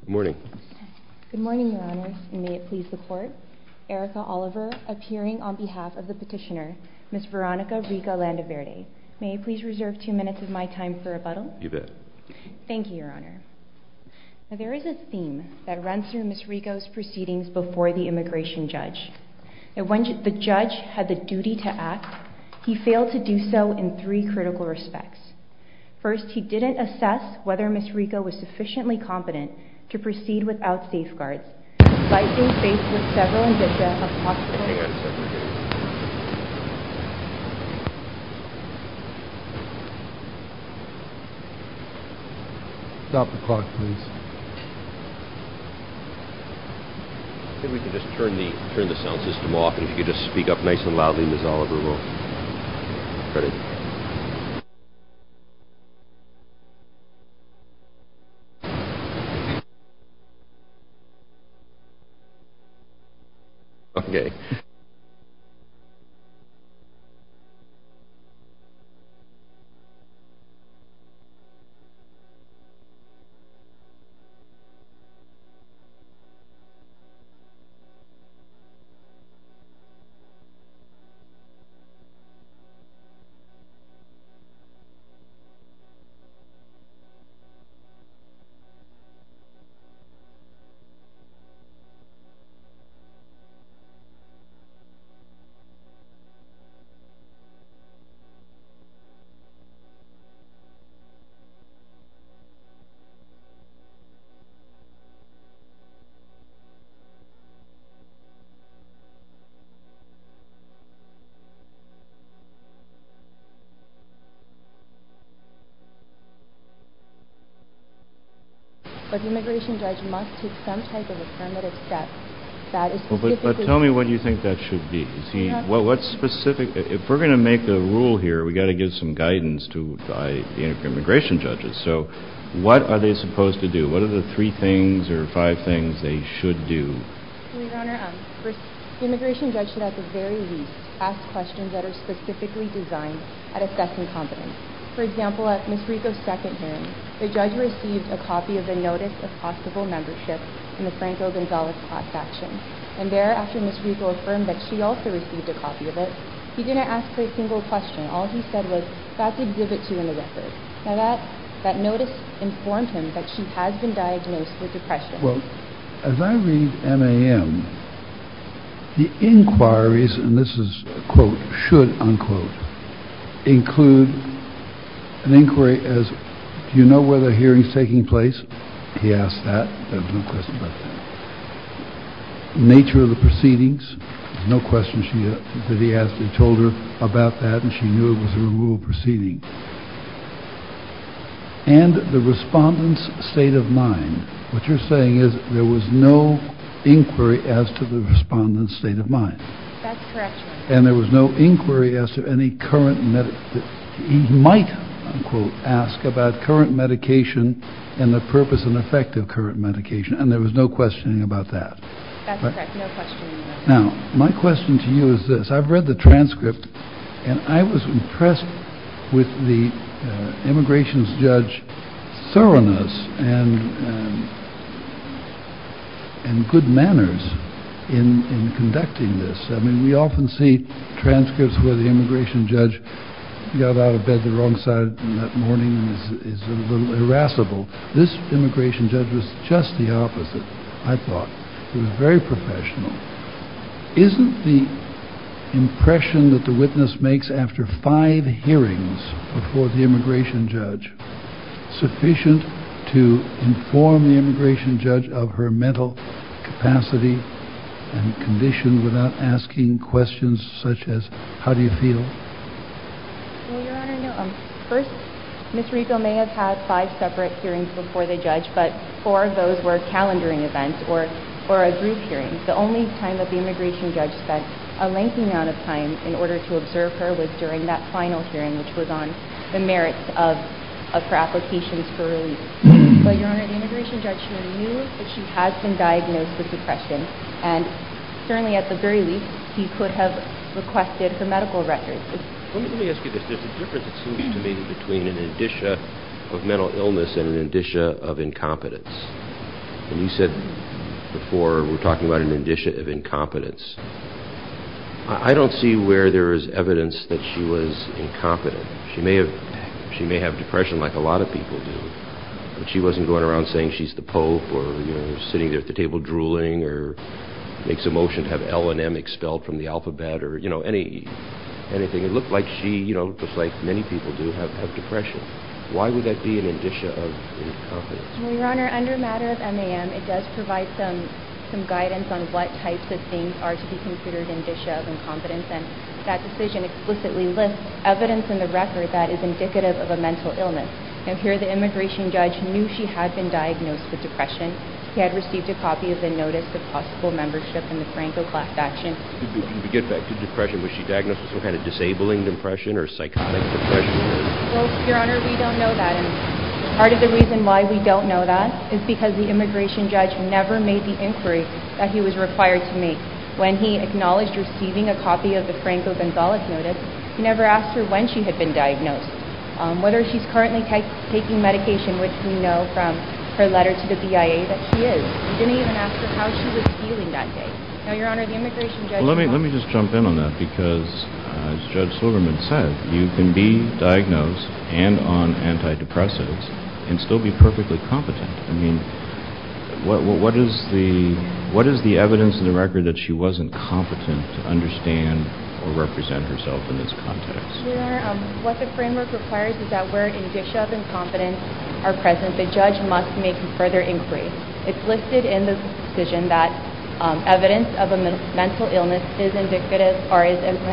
Good morning. Good morning, Your Honors, and may it please the Court. Erica Oliver, appearing on behalf of the petitioner, Ms. Veronica Rico-Landaverde. May I please reserve two minutes of my time for rebuttal? You bet. Thank you, Your Honor. Now, there is a theme that runs through Ms. Rico's proceedings before the immigration judge. The judge had the duty to act. He failed to do so in three critical respects. First, he didn't assess whether Ms. Rico was sufficiently competent to proceed without safeguards, despite being faced with several indicia of possible... Hang on a second, please. Stop the clock, please. I think we can just turn the sound system off, and if you could just speak up nice and loudly, Ms. Oliver, we'll cut it. Okay. Thank you, Your Honor. But the immigration judge must take some type of affirmative step that is specifically... Well, but tell me what you think that should be. Is he... Well, what specific... If we're going to make a rule here, we've got to give some guidance to the immigration judges. So, what are they supposed to do? What are the three things or five things they should do? Your Honor, the immigration judge should at the very least ask questions that are specifically designed at assessing competence. For example, at Ms. Rico's second hearing, the judge received a copy of the notice of possible membership in the Franco-Gonzalez class faction, and thereafter, Ms. Rico affirmed that she also received a copy of it. He didn't ask her a single question. All he said was, that's exhibit two in the record. Now, that notice informed him that she has been diagnosed with depression. Well, as I read MAM, the inquiries, and this is quote, should, unquote, include an inquiry as, do you know where the hearing's taking place? He asked that. There was no question about that. Nature of the proceedings. There was no question that he asked. He told her about that, and she knew it was a removal proceeding. And the respondent's state of mind. What you're saying is, there was no inquiry as to the respondent's state of mind. That's correct, Your Honor. And there was no inquiry as to any current, he might, unquote, ask about current medication and the purpose and effect of current medication. And there was no questioning about that. That's correct, no questioning about that. Now, my question to you is this. I've read the transcript, and I was impressed with the immigration's judge's thoroughness and and good manners in conducting this. I mean, we often see transcripts where the immigration judge got out of bed the wrong side in that morning and is a little irascible. This immigration judge was just the opposite, I thought. He was very professional. Isn't the impression that the witness makes after five hearings before the immigration judge sufficient to inform the immigration judge of her mental capacity and condition without asking questions such as, how do you feel? Well, Your Honor, no. First, Ms. Rico may have had five separate hearings before the judge, but four of those were calendaring events or a group hearing. The only time that the immigration judge spent a lengthy amount of time in order to observe her was during that final hearing, which was on the merits of her applications for release. Well, Your Honor, the immigration judge sure knew that she has been diagnosed with depression and certainly at the very least he could have requested her medical records. Let me ask you this. There's a difference that seems to be between an indicia of mental illness and an indicia of incompetence. And you said before we're talking about an indicia of incompetence. I don't see where there is evidence that she was incompetent. She may have depression like a lot of people do, but she wasn't going around saying she's the pope or sitting at the table drooling or makes a motion to have L and M expelled from the alphabet or anything. It looked like she, just like many people do, have depression. Why would that be an indicia of incompetence? Your Honor, under matter of MAM it does provide some guidance on what types of things are to be considered indicia of incompetence and that decision explicitly lists evidence in the record that is indicative of a mental illness. Now here the immigration judge knew she had been diagnosed with depression. He had received a copy of the notice of possible membership in the Franco class action. To get back to depression, was she diagnosed with some kind of disabling depression or psychotic depression? Well, Your Honor, we don't know that and part of the reason why we don't know that is because the immigration judge never made the inquiry that he was required to make. When he acknowledged receiving a copy of the Franco-Gonzalez notice, he never asked her when she had been diagnosed. Whether she's currently taking medication, which we know from her letters to the BIA that she is. He didn't even ask her how she was feeling that day. Now, Your Honor, the immigration judge Well, let me just jump in on that because as Judge Silverman said, you can be diagnosed and on antidepressants and still be perfectly competent. I mean, what is the evidence in the record that she wasn't competent to understand or represent herself in this context? Your Honor, what the framework requires is that where indicia of incompetence are present, the judge must make further inquiries It's listed in the decision that evidence of a mental illness is indicative or is an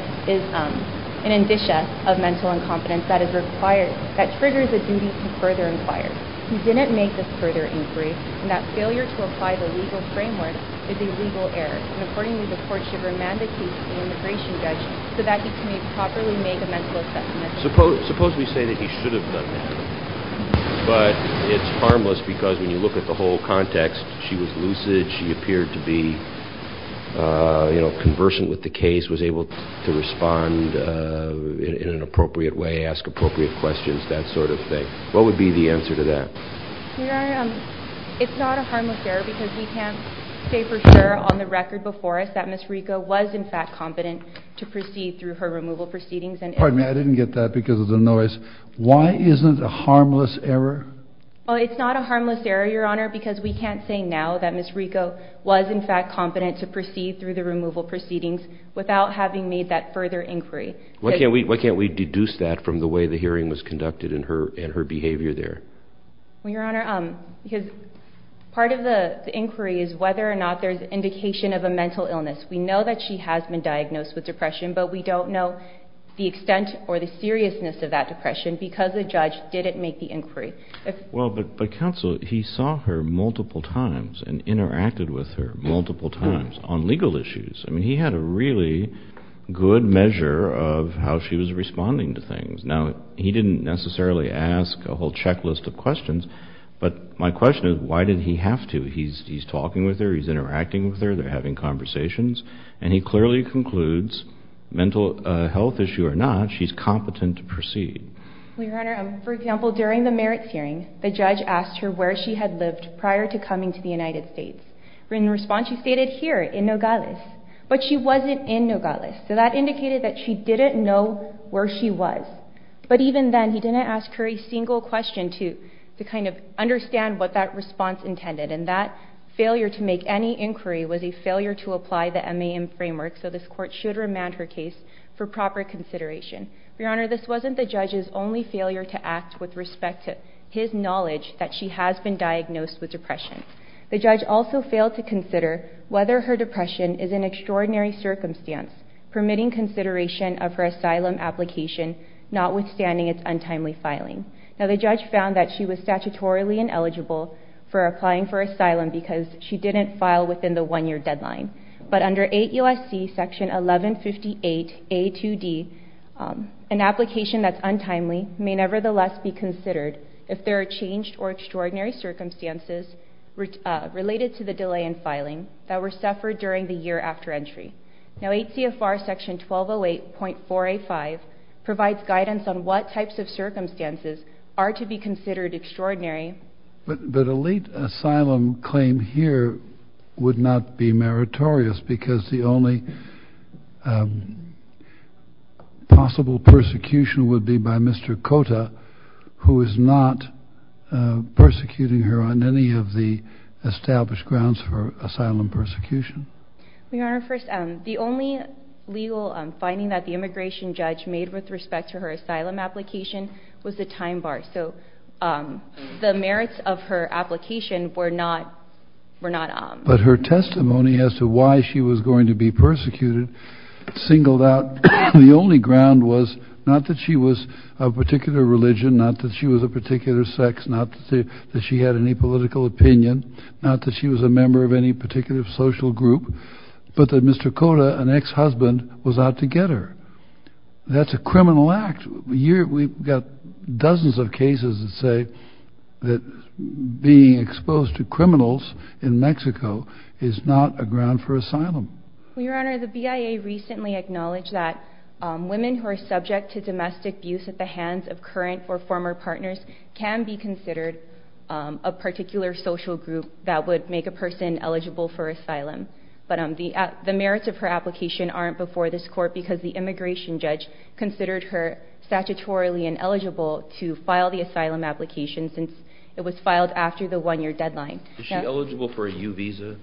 indicia of mental incompetence that is required that triggers the duty to further inquire. He didn't make this further inquiry and that failure to apply the legal framework is a legal error and, accordingly, the court should remandicate the immigration judge so that he can properly make a mental assessment. Suppose we say that he should have done that but it's harmless because when you look at the whole context, she was lucid, she appeared to be conversant with the case, was able to respond in an appropriate way, ask appropriate questions, that sort of thing. What would be the answer to that? Your Honor, it's not a harmless error because we can't say for sure on the record before us that Ms. Rico was, in fact, competent to proceed through her removal proceedings and... Pardon me, I didn't get that because of the noise. Why isn't it a harmless error? Well, it's not a harmless error, Your Honor, because we can't say now that Ms. Rico was, in fact, competent to proceed through the removal proceedings without having made that further inquiry. Why can't we deduce that from the way the hearing was conducted and her behavior there? Well, Your Honor, part of the inquiry is whether or not there's indication of a mental illness. We know that she has been diagnosed with depression but we don't know the extent or the seriousness of that depression because the judge didn't make the inquiry. Well, but counsel, he saw her multiple times and interacted with her multiple times on legal issues. I mean, he had a really good measure of how she was responding to things. Now, he didn't necessarily ask a whole checklist of questions but my question is why did he have to? He's talking with her, he's interacting with her, they're having conversations and he clearly concludes that whether it's a mental health issue or not, she's competent to proceed. Well, Your Honor, for example, during the merits hearing the judge asked her where she had lived prior to coming to the United States. In response, she stated here in Nogales but she wasn't in Nogales so that indicated where she was but even then he didn't ask her a single question to kind of understand what that response intended and that failure to make any inquiry was a failure to apply the MAM framework so this court should remand her case for proper consideration. Your Honor, this wasn't the judge's only failure to act with respect to his knowledge that she has been diagnosed with depression. The judge also failed to consider whether her depression is an extraordinary circumstance permitting consideration of her asylum application notwithstanding its untimely filing. Now, the judge found that she was statutorily ineligible for applying for asylum because she didn't file within the one-year deadline but under 8 U.S.C. section 1158 A2D an application that's untimely may nevertheless be considered if there are changed or extraordinary circumstances related to the delay in filing that were suffered during the year after entry. Now, 8 C.F.R. section 1208.485 provides guidance on what types of circumstances are to be considered extraordinary but a late asylum claim here would not be meritorious because the only possible persecution would be by Mr. Kota who is not persecuting her on any of the established grounds for asylum persecution. first, the only legal finding that the immigration judge made with respect to her asylum application was the time bar. So, the minimum time bar that the merits of her application were not but her testimony as to why she was going to be persecuted singled out the only ground was not that she was of particular religion, not that she was of particular sex, not that she had any political opinion, not that she was a member of any particular social group, but that Mr. Kota, an ex- husband, was out to get her. That's a criminal act. We've got dozens of cases that say that being exposed to criminals in Mexico is not a ground for asylum. Your Honor, the BIA recently acknowledged that women who are subject to domestic abuse at the hands of current or former partners can be considered a particular social group that would make a person eligible for asylum. But the merits of her application aren't before this court because the immigration judge considered her statutorily ineligible to file the application since it was filed after the one-year deadline. Is she eligible for a U visa?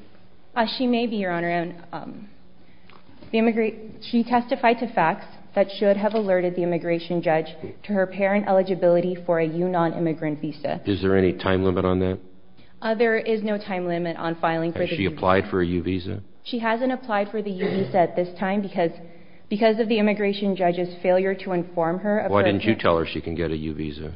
She may be, Your Honor. She testified to facts that should have been Why isn't she applying for a U visa? She hasn't applied for the U visa at this time because of the immigration judge's failure to inform her. Why didn't you tell her she can get a U visa?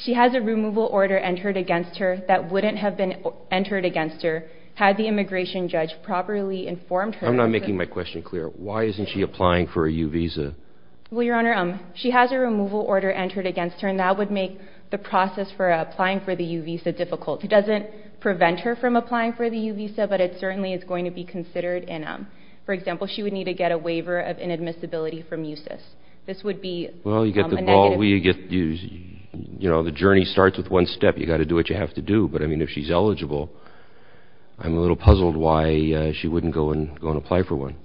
She has a removal order entered against her that wouldn't have been entered against her had the immigration judge properly informed her. I'm not making my question clear. Why isn't she applying for a U visa? She has a removal order entered against her and that would make the process for applying for the U visa difficult. It doesn't prevent her from applying for the U visa but it certainly is going to be difficult get a U visa. She would need to get a waiver of inadmissibility from UCIS. The journey starts with one step. If she's eligible, I'm puzzled why she wouldn't apply for one.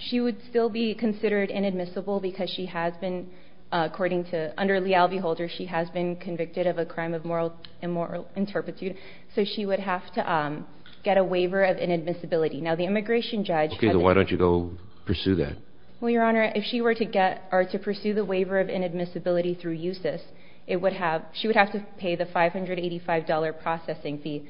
She would still be considered inadmissible because she has been convicted of a crime of moral interpretation. She would have to get a waiver of inadmissibility. The immigration judge... Why don't you pursue that? If she were to pursue the waiver of inadmissibility through UCIS, she would have to pay the $585 processing fee.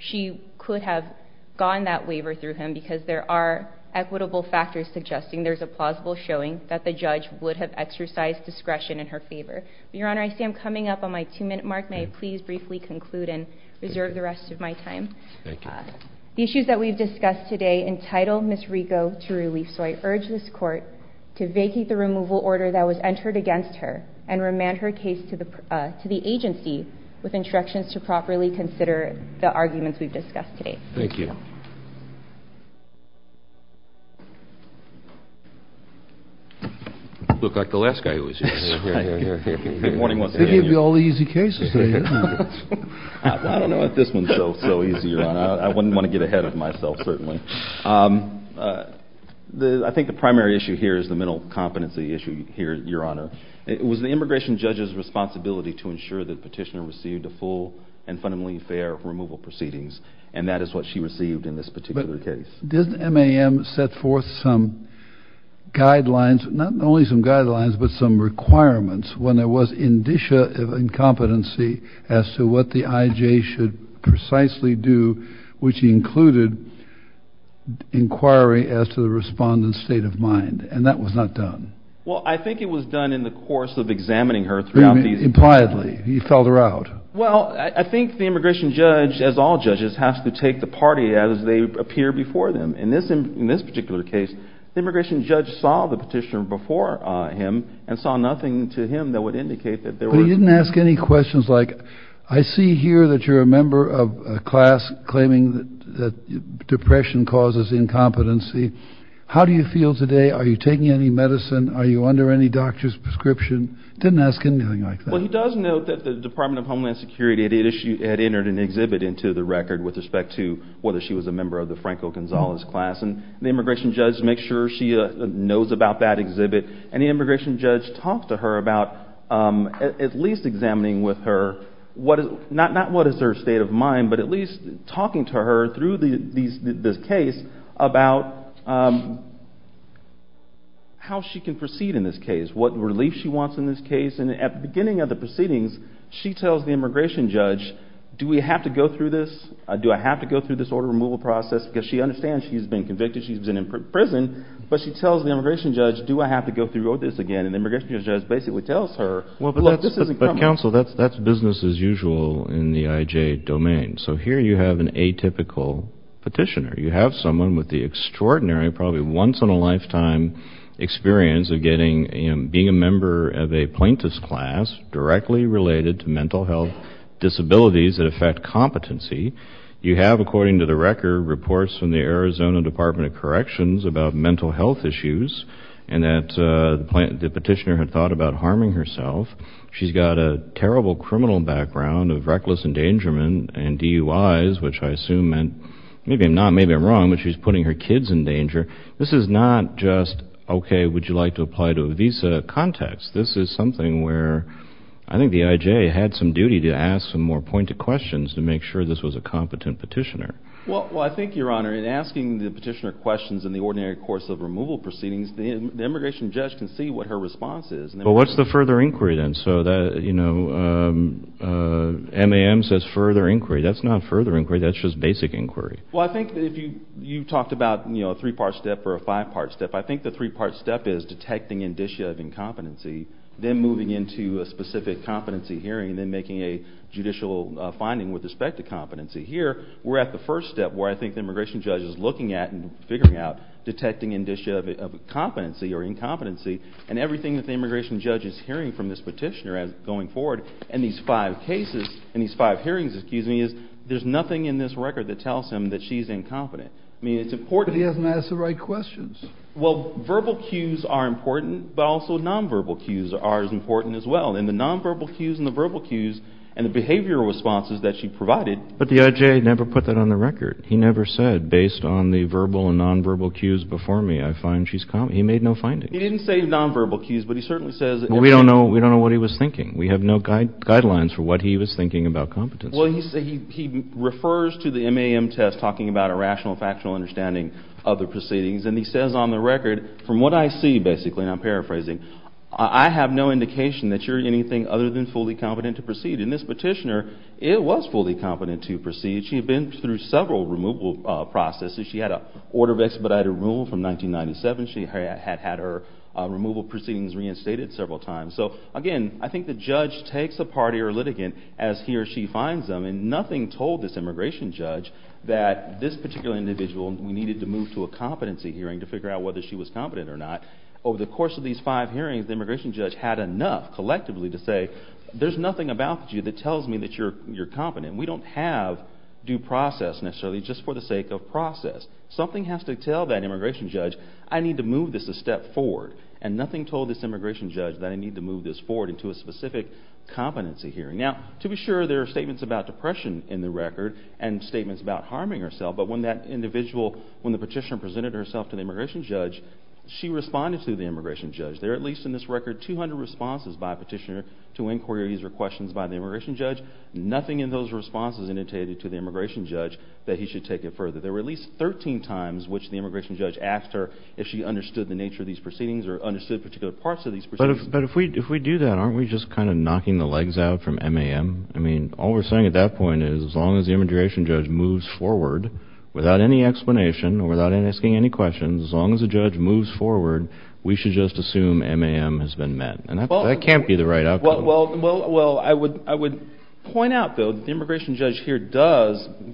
She could have gone that waiver through him because there are no equitable factors suggesting there's a plausible showing that the judge would have exercised discretion in her favor. Your Honor, I see I'm coming up on my two-minute mark. May I please briefly conclude and reserve the rest of my time? Thank you. You look like the last guy who was here. They give you all the easy cases. I don't know what this one is so easy. I wouldn't want to get ahead of myself certainly. I think the primary issue here is the mental competency issue. It was the immigration judge's responsibility to ensure that the petitioner received a full and fundamentally fair removal proceedings. That is what she received in this particular case. Didn't MAM set forth some guidelines, not only some guidelines, but some requirements when there was a condition of incompetency as to what the IJ should precisely do, which included inquiry as to the respondent's state of mind. That was not done. I think it was done in the course of examining her. I think the immigration judge has to take the party as they appear before them. In this particular case, the immigration judge saw the petitioner before him and saw nothing to him that would indicate that there were... But he didn't ask any questions like, I see here that you're a member of a class claiming that depression causes incompetency. How do you feel today? Are you taking any medicine? Are you under any doctor's prescription? Didn't ask anything like that. He does note that the Department of Homeland Security had entered an exhibit into the record with respect to whether she was a member of the Franco Gonzalez class. And the immigration judge makes sure she knows about that exhibit. And the immigration judge talks to her about at least examining with her not what is her state of mind, but at least talking to her through this case about how she can proceed in this case, what relief she wants in this case. And at the beginning of the proceedings she tells the immigration judge, do I have to go through this order removal process? Because she understands she's been convicted, she's been in prison, but she tells the immigration judge, do I have to go through this again? And the immigration judge basically tells her, look, this isn't coming. But counsel, that's business as usual in the IJ domain. So here you have an atypical petitioner. You have someone with the extraordinary probably once experience of being a member of a plaintiff's class directly related to mental health disabilities that affect competency. You have, according to the record, reports from the Arizona Department of Corrections about mental health issues and that the petitioner had thought about harming herself. She's got a terrible criminal background of reckless endangerment and DUIs, which I assume meant, maybe I'm wrong, but she's putting her kids in danger. This is not just, okay, would you like to apply to a visa context. This is something where I think the IJ had some issues with the immigration judge. The immigration judge can see what her response is. What's the further inquiry then? MAM says further inquiry. That's not further inquiry. That's just basic inquiry. You talked about a three-part step or a five-part step. I think the three-part step is detecting indicia of incompetency, then moving into a specific competency hearing, then making a judicial finding with respect to competency. Here, we're at the first step where I think the immigration judge is looking at and figuring out indicia of incompetency and everything that the immigration judge is hearing from this petitioner going forward. In these five hearings, there's nothing in this record that tells him she's incompetent. It's important. But he hasn't asked the right questions. Verbal cues are important but also nonverbal cues are important as well. The behavior responses she provided... But the IJ never put that on the record. We have no guidelines for what he was thinking about competency. He refers to the MAM test talking about a rational understanding of the proceedings. He says on the record from what I see, I have no indication that you're anything other than fully competent to proceed. In this case, the judge takes a party or litigant and nothing told this judge that this individual needed to move to a competency hearing to figure out whether she was competent or not. There's nothing about you that tells me you're competent. We don't have due process necessarily just for this individual. There are statements about depression in the record and statements about harming herself but when the petitioner presented herself to the immigration judge, she responded to the immigration judge. There are at least 200 responses by the petitioner to inquiries or questions by the immigration judge. Nothing in those responses indicated to the immigration judge that he should take it further. There were at least 13 times which the immigration judge asked her if she understood the nature of these proceedings. But if we do that, aren't we just knocking the legs out from MAM? All we're saying at that point is as long as the immigration judge moves forward without any explanation or without asking any questions, as long as the judge moves forward, we should just assume MAM has been met. That can't be the right outcome. I would point out that the immigration judge here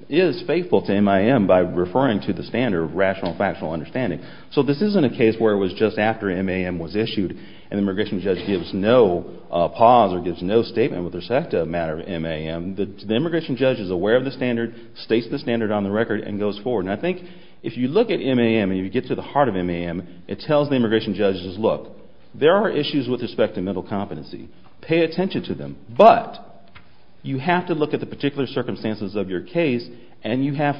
is faithful to MAM by referring to the standard rational factual understanding. So this isn't a case where it was just after MAM was issued and the immigration judge gives no pause or gives no statement with respect to the matter of MAM. The immigration judge is aware of the standard, states the standard on the record and goes forward. And I think if you look at this you have the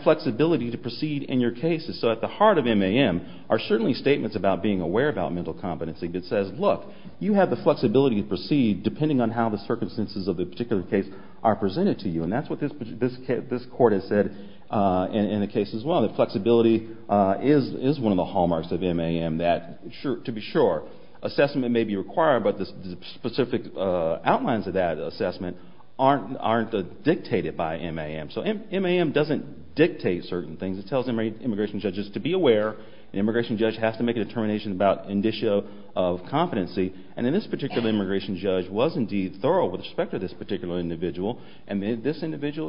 flexibility to proceed in your cases. At the heart of MAM are statements about being aware of mental competency. You have the flexibility to proceed depending on how the circumstances are presented to you. That's what this court has said in the case as well. That flexibility is one of the hallmarks of MAM. Assessment may be required but the specific outlines of that assessment aren't dictated by MAM. MAM doesn't dictate certain things. It tells the immigration judge to be aware and the immigration judge has to make a determination about competency and this particular immigration judge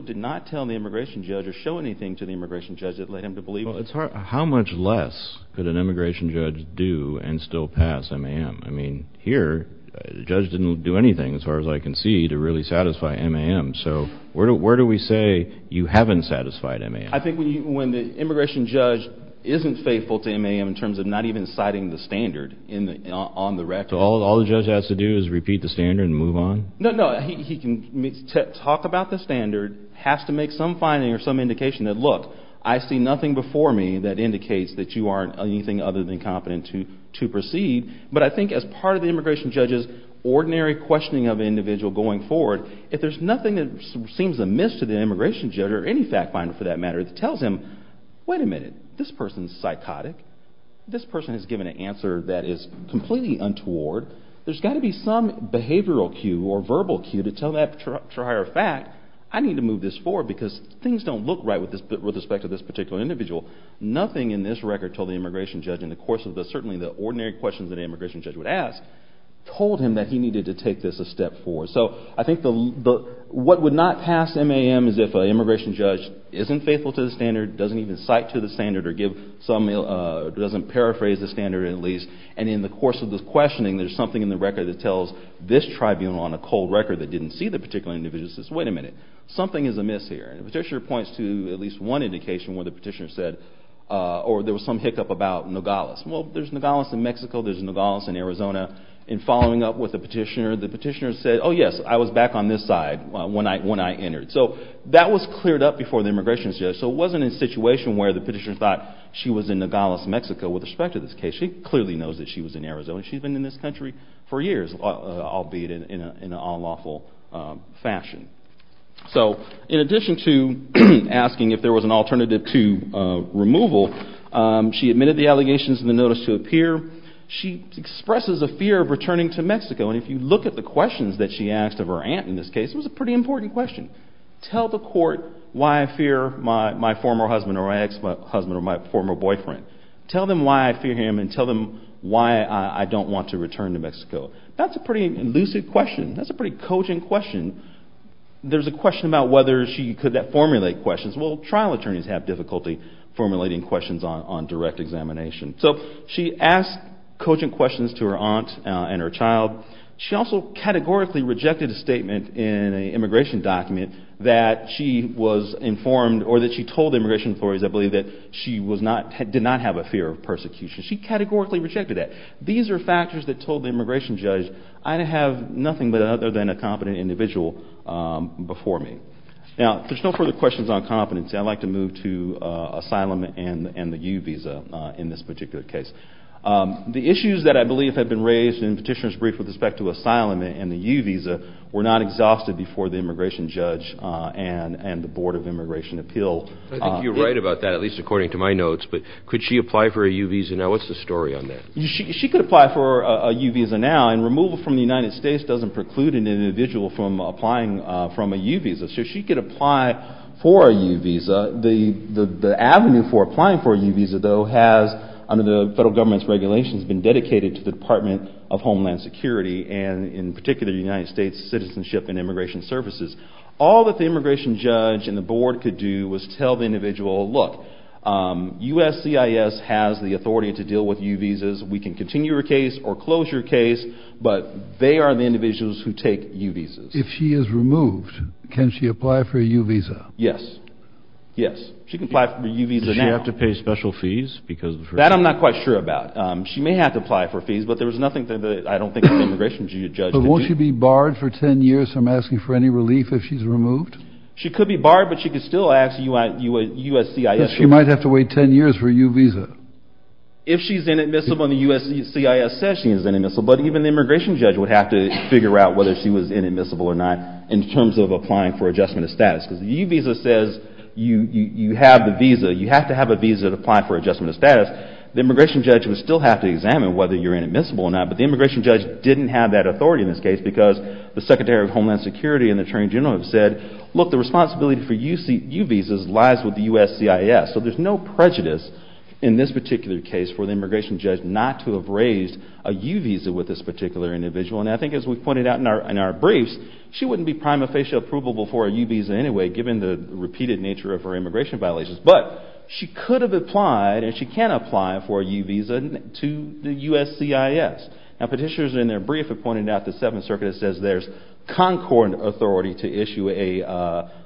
did not tell the immigration judge or show anything to the immigration judge. How much less could an immigration judge do and still pass MAM? Here the judge didn't do anything to satisfy MAM. Where do we say you haven't satisfied MAM? When the immigration judge isn't faithful to the standard, the judge has to make some indication that I see nothing before me that indicates that you aren't anything other than competent to proceed but as part of the immigration judge's ordinary questioning of the individual going forward, if there's nothing that seems amiss to the immigration judge or any fact finder that tells him, wait a minute, this person is psychotic, this person has given an answer that is completely untoward, there's got to be some behavioral cue or verbal cue to tell that prior fact I need to make indicates that you aren't anything other than competent to proceed but as part of the immigration judge's ordinary questioning of the individual going forward, if there's nothing that seems amiss to the immigration judge or any fact finder him, wait a minute, is psychotic, there's got to cue to tell him, wait a minute, this person is psychotic, there's got to be some behavioral cue to tell him, wait a minute, this person is psychotic, there's got to be some tab daha yeah huge honor worked at a big rights activists and minister cripple 계 and you don't threat to conflict I you you the better governments and and immigration appeal you're right about that at least according to my notes but could she apply for a U visa now what's the story on that she could apply for a U visa now and removal from the United States doesn't preclude an individual from applying from a U visa so she could apply for a U visa the avenue for applying for a U visa though has under the federal government's regulations been dedicated to the Department of Homeland Security and in particular the United States Citizenship and Immigration Services all that the immigration judge and the board could do was tell the individual look U.S.C.I.S. has the authority to deal with U visas we can continue your case or close your case but they are the individuals who take U visas if she is removed can she apply for a U visa yes yes she can apply for a U visa now does she have to pay special fees that I'm not quite sure about she may have to apply for fees but there's nothing that I don't think the immigration judge would do but won't she be barred for 10 years from asking for any relief if she's removed she could be barred but she could still ask U.S.C.I.S. she might have to wait 10 years for a U visa if she's inadmissible and the U.S.C.I.S. says she's inadmissible but even the immigration judge would have to figure out whether she was inadmissible or not in terms of applying for adjustment of status because the U visa says you have the visa you have to have a visa to apply for adjustment of status the immigration judge would still have to examine whether you're inadmissible or not but the immigration judge didn't have that authority in this case because the Secretary of Homeland Security and the Attorney General have said look the responsibility for U visas lies with the U.S.C.I.S. so there's no prejudice in this particular case for the immigration judge not to have raised a U visa with this particular individual and I think as we've pointed out in our briefs she wouldn't be prima facie approvable for a U visa anyway given the repeated nature of her immigration violations but she could have applied and she can apply for a U visa to the U.S.C.I.S. now petitioners in their brief have pointed out the 7th circuit says there's Concord authority to issue a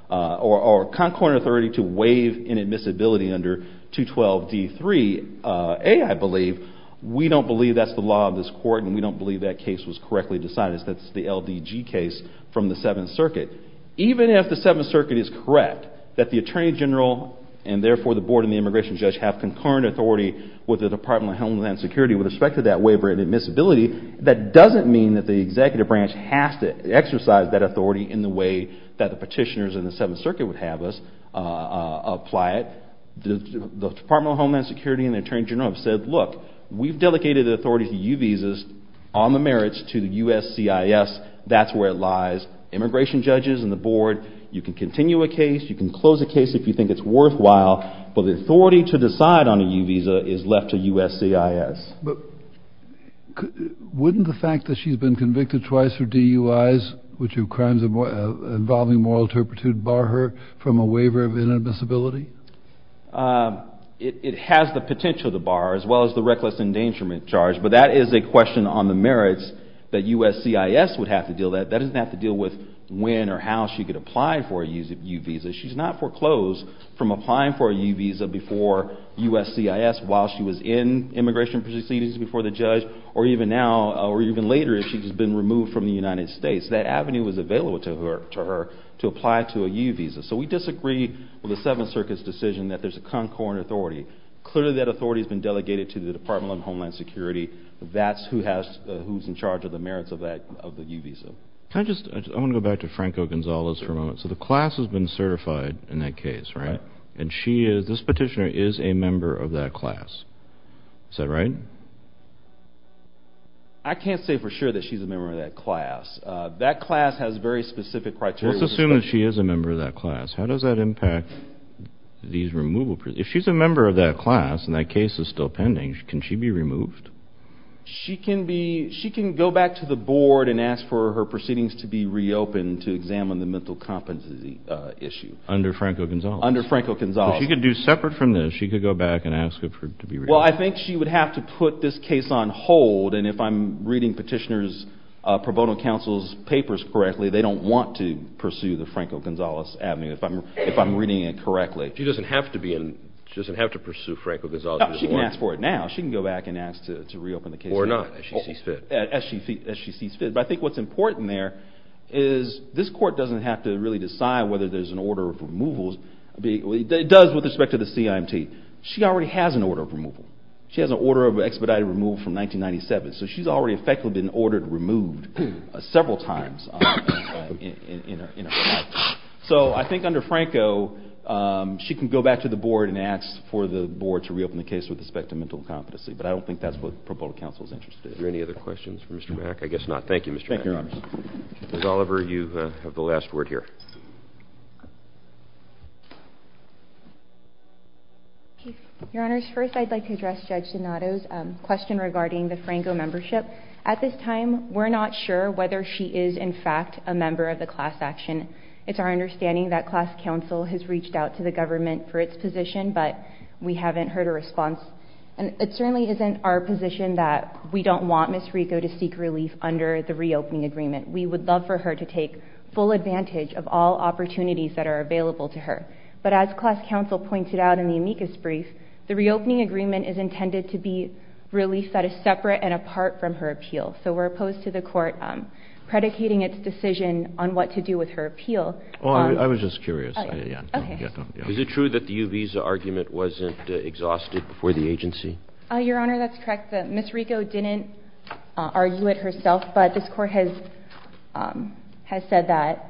or Concord authority to waive inadmissibility under 212 D 3 A I believe we don't believe that's the law of this court and we don't believe that case was correctly decided that's the LDG case from the 7th circuit even if the 7th circuit is correct that the Attorney General and therefore the board and the Department of Homeland Security with respect to that waiver and admissibility that doesn't mean that the executive branch has to exercise that authority in the way that the petitioners in the 7th circuit would have us apply it the Department of Homeland Security and the Attorney General have said look we've delegated the authority to U visas on the merits to the U.S.C.I.S. that's where it lies immigration judges and the board you can continue a case you can close a case if you think it's worthwhile but the U.S.C.I.S. wouldn't the fact that she's been convicted twice for DUI's which are crimes involving moral turpitude bar her from a waiver of inadmissibility it has the potential to bar as well as the reckless endangerment charge but that is a question on the merits that U.S.C.I.S. would have to deal with that doesn't have to deal with when or how she could apply for a U visa she's not foreclosed from applying for a U visa before U.S.C.I.S. while she was in immigration proceedings before the judge or even now or even later if she's been removed from the United States that avenue was available to her to apply to a U visa so we disagree with the 7th Circuit's decision that there's a concordant authority clearly that authority has been delegated to the Department of Homeland Security that's who has who's in charge of the merits of that of the U visa. Can I just I want to go back to Franco Gonzalez for a moment so the class has been certified in that case right and she is this petitioner is a member of that class is that right? I can't say for sure that she's a member of that class that class has very specific criteria let's assume that she is a member of that class how does that impact these removal if she's a member of that class and that case is still pending can she be removed? She can be she can go back to the board and ask for her proceedings to be reopened to examine the mental competency issue. Under Franco Gonzalez? Under Franco Gonzalez. If she could do separate from this she could go back and ask her to be reopened. Well I think she would have to put this case on hold and if I'm reading petitioners pro bono counsel's papers correctly they don't want to pursue the Franco Gonzalez avenue if I'm reading it correctly. She doesn't have to be in she doesn't have to pursue Franco Gonzalez. She can ask for it now she can go back and ask to reopen the case. Or not as she sees fit. As she sees fit but I think what's important there is this court doesn't have to really decide whether there's an order of removals it does with respect to the CIMT she already has an order of removal she has an order of expedited removal from 1997 so she's already effectively been ordered removed several times in her life. So I think under Franco she can go back to the board and ask for the board to reopen the case with respect to mental competency but I don't think that's what pro bono counsel is interested in. Are there any other questions for Mr. Mack? I guess not. Thank you Mr. Mack. Ms. Oliver you have the last word here. Your honors, first I'd like to address Judge Donato's question regarding the Franco membership. At this time we're not sure whether she is in fact a member of the class action. It's our understanding that class counsel has reached out to the government for its position but we haven't heard a response and it certainly isn't our position that we don't want Ms. Rico to seek relief under the reopening agreement. We would love for her to take full advantage of all opportunities that are available to her. But as class counsel pointed out in the amicus brief the reopening agreement is intended to be relief that is separate and apart from her appeal. So we're opposed to the court predicating its decision on what to do with her appeal. I was just curious. Is it true that the U-Visa argument wasn't exhausted before the agency? Your honor that's correct Ms. Rico didn't argue it herself but this court has said that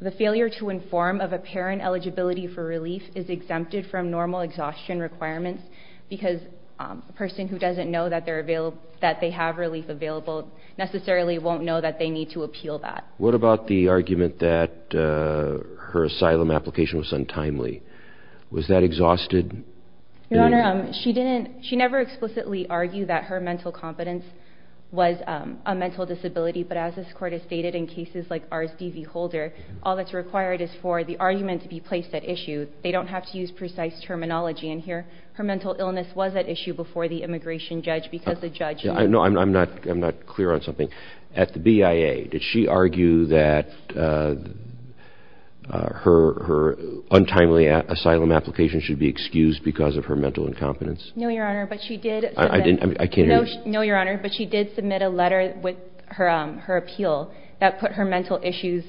the failure to inform of a parent eligibility for relief is exempted from normal exhaustion requirements because a person who doesn't know that they're available that they have relief available necessarily won't know that they need to appeal that. What about the argument that her asylum application was untimely? Was that exhausted? Your honor she didn't she never explicitly argued that her mental competence was a mental disability but as this court has stated in cases like R.S.D.V. Holder all that's required is for the argument to be placed at issue. They don't have to use precise terminology in here. Her mental illness was at issue before the immigration judge because the judge I'm not clear on something. At the BIA did she argue that her untimely asylum application should be excused because of her mental incompetence? No your honor but she did submit a letter with her appeal that put her mental issues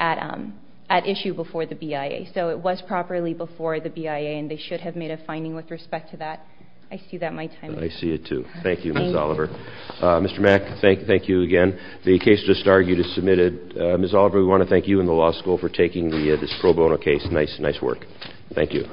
at issue before the BIA so it was properly before the BIA and they should have made a finding with respect to that. I see that my time is up. Thank you Ms. Oliver. Mr. Mack thank you again. The case just argued is submitted. Ms. Oliver we want to thank you and the law school for taking this pro bono case. Nice work. Thank you.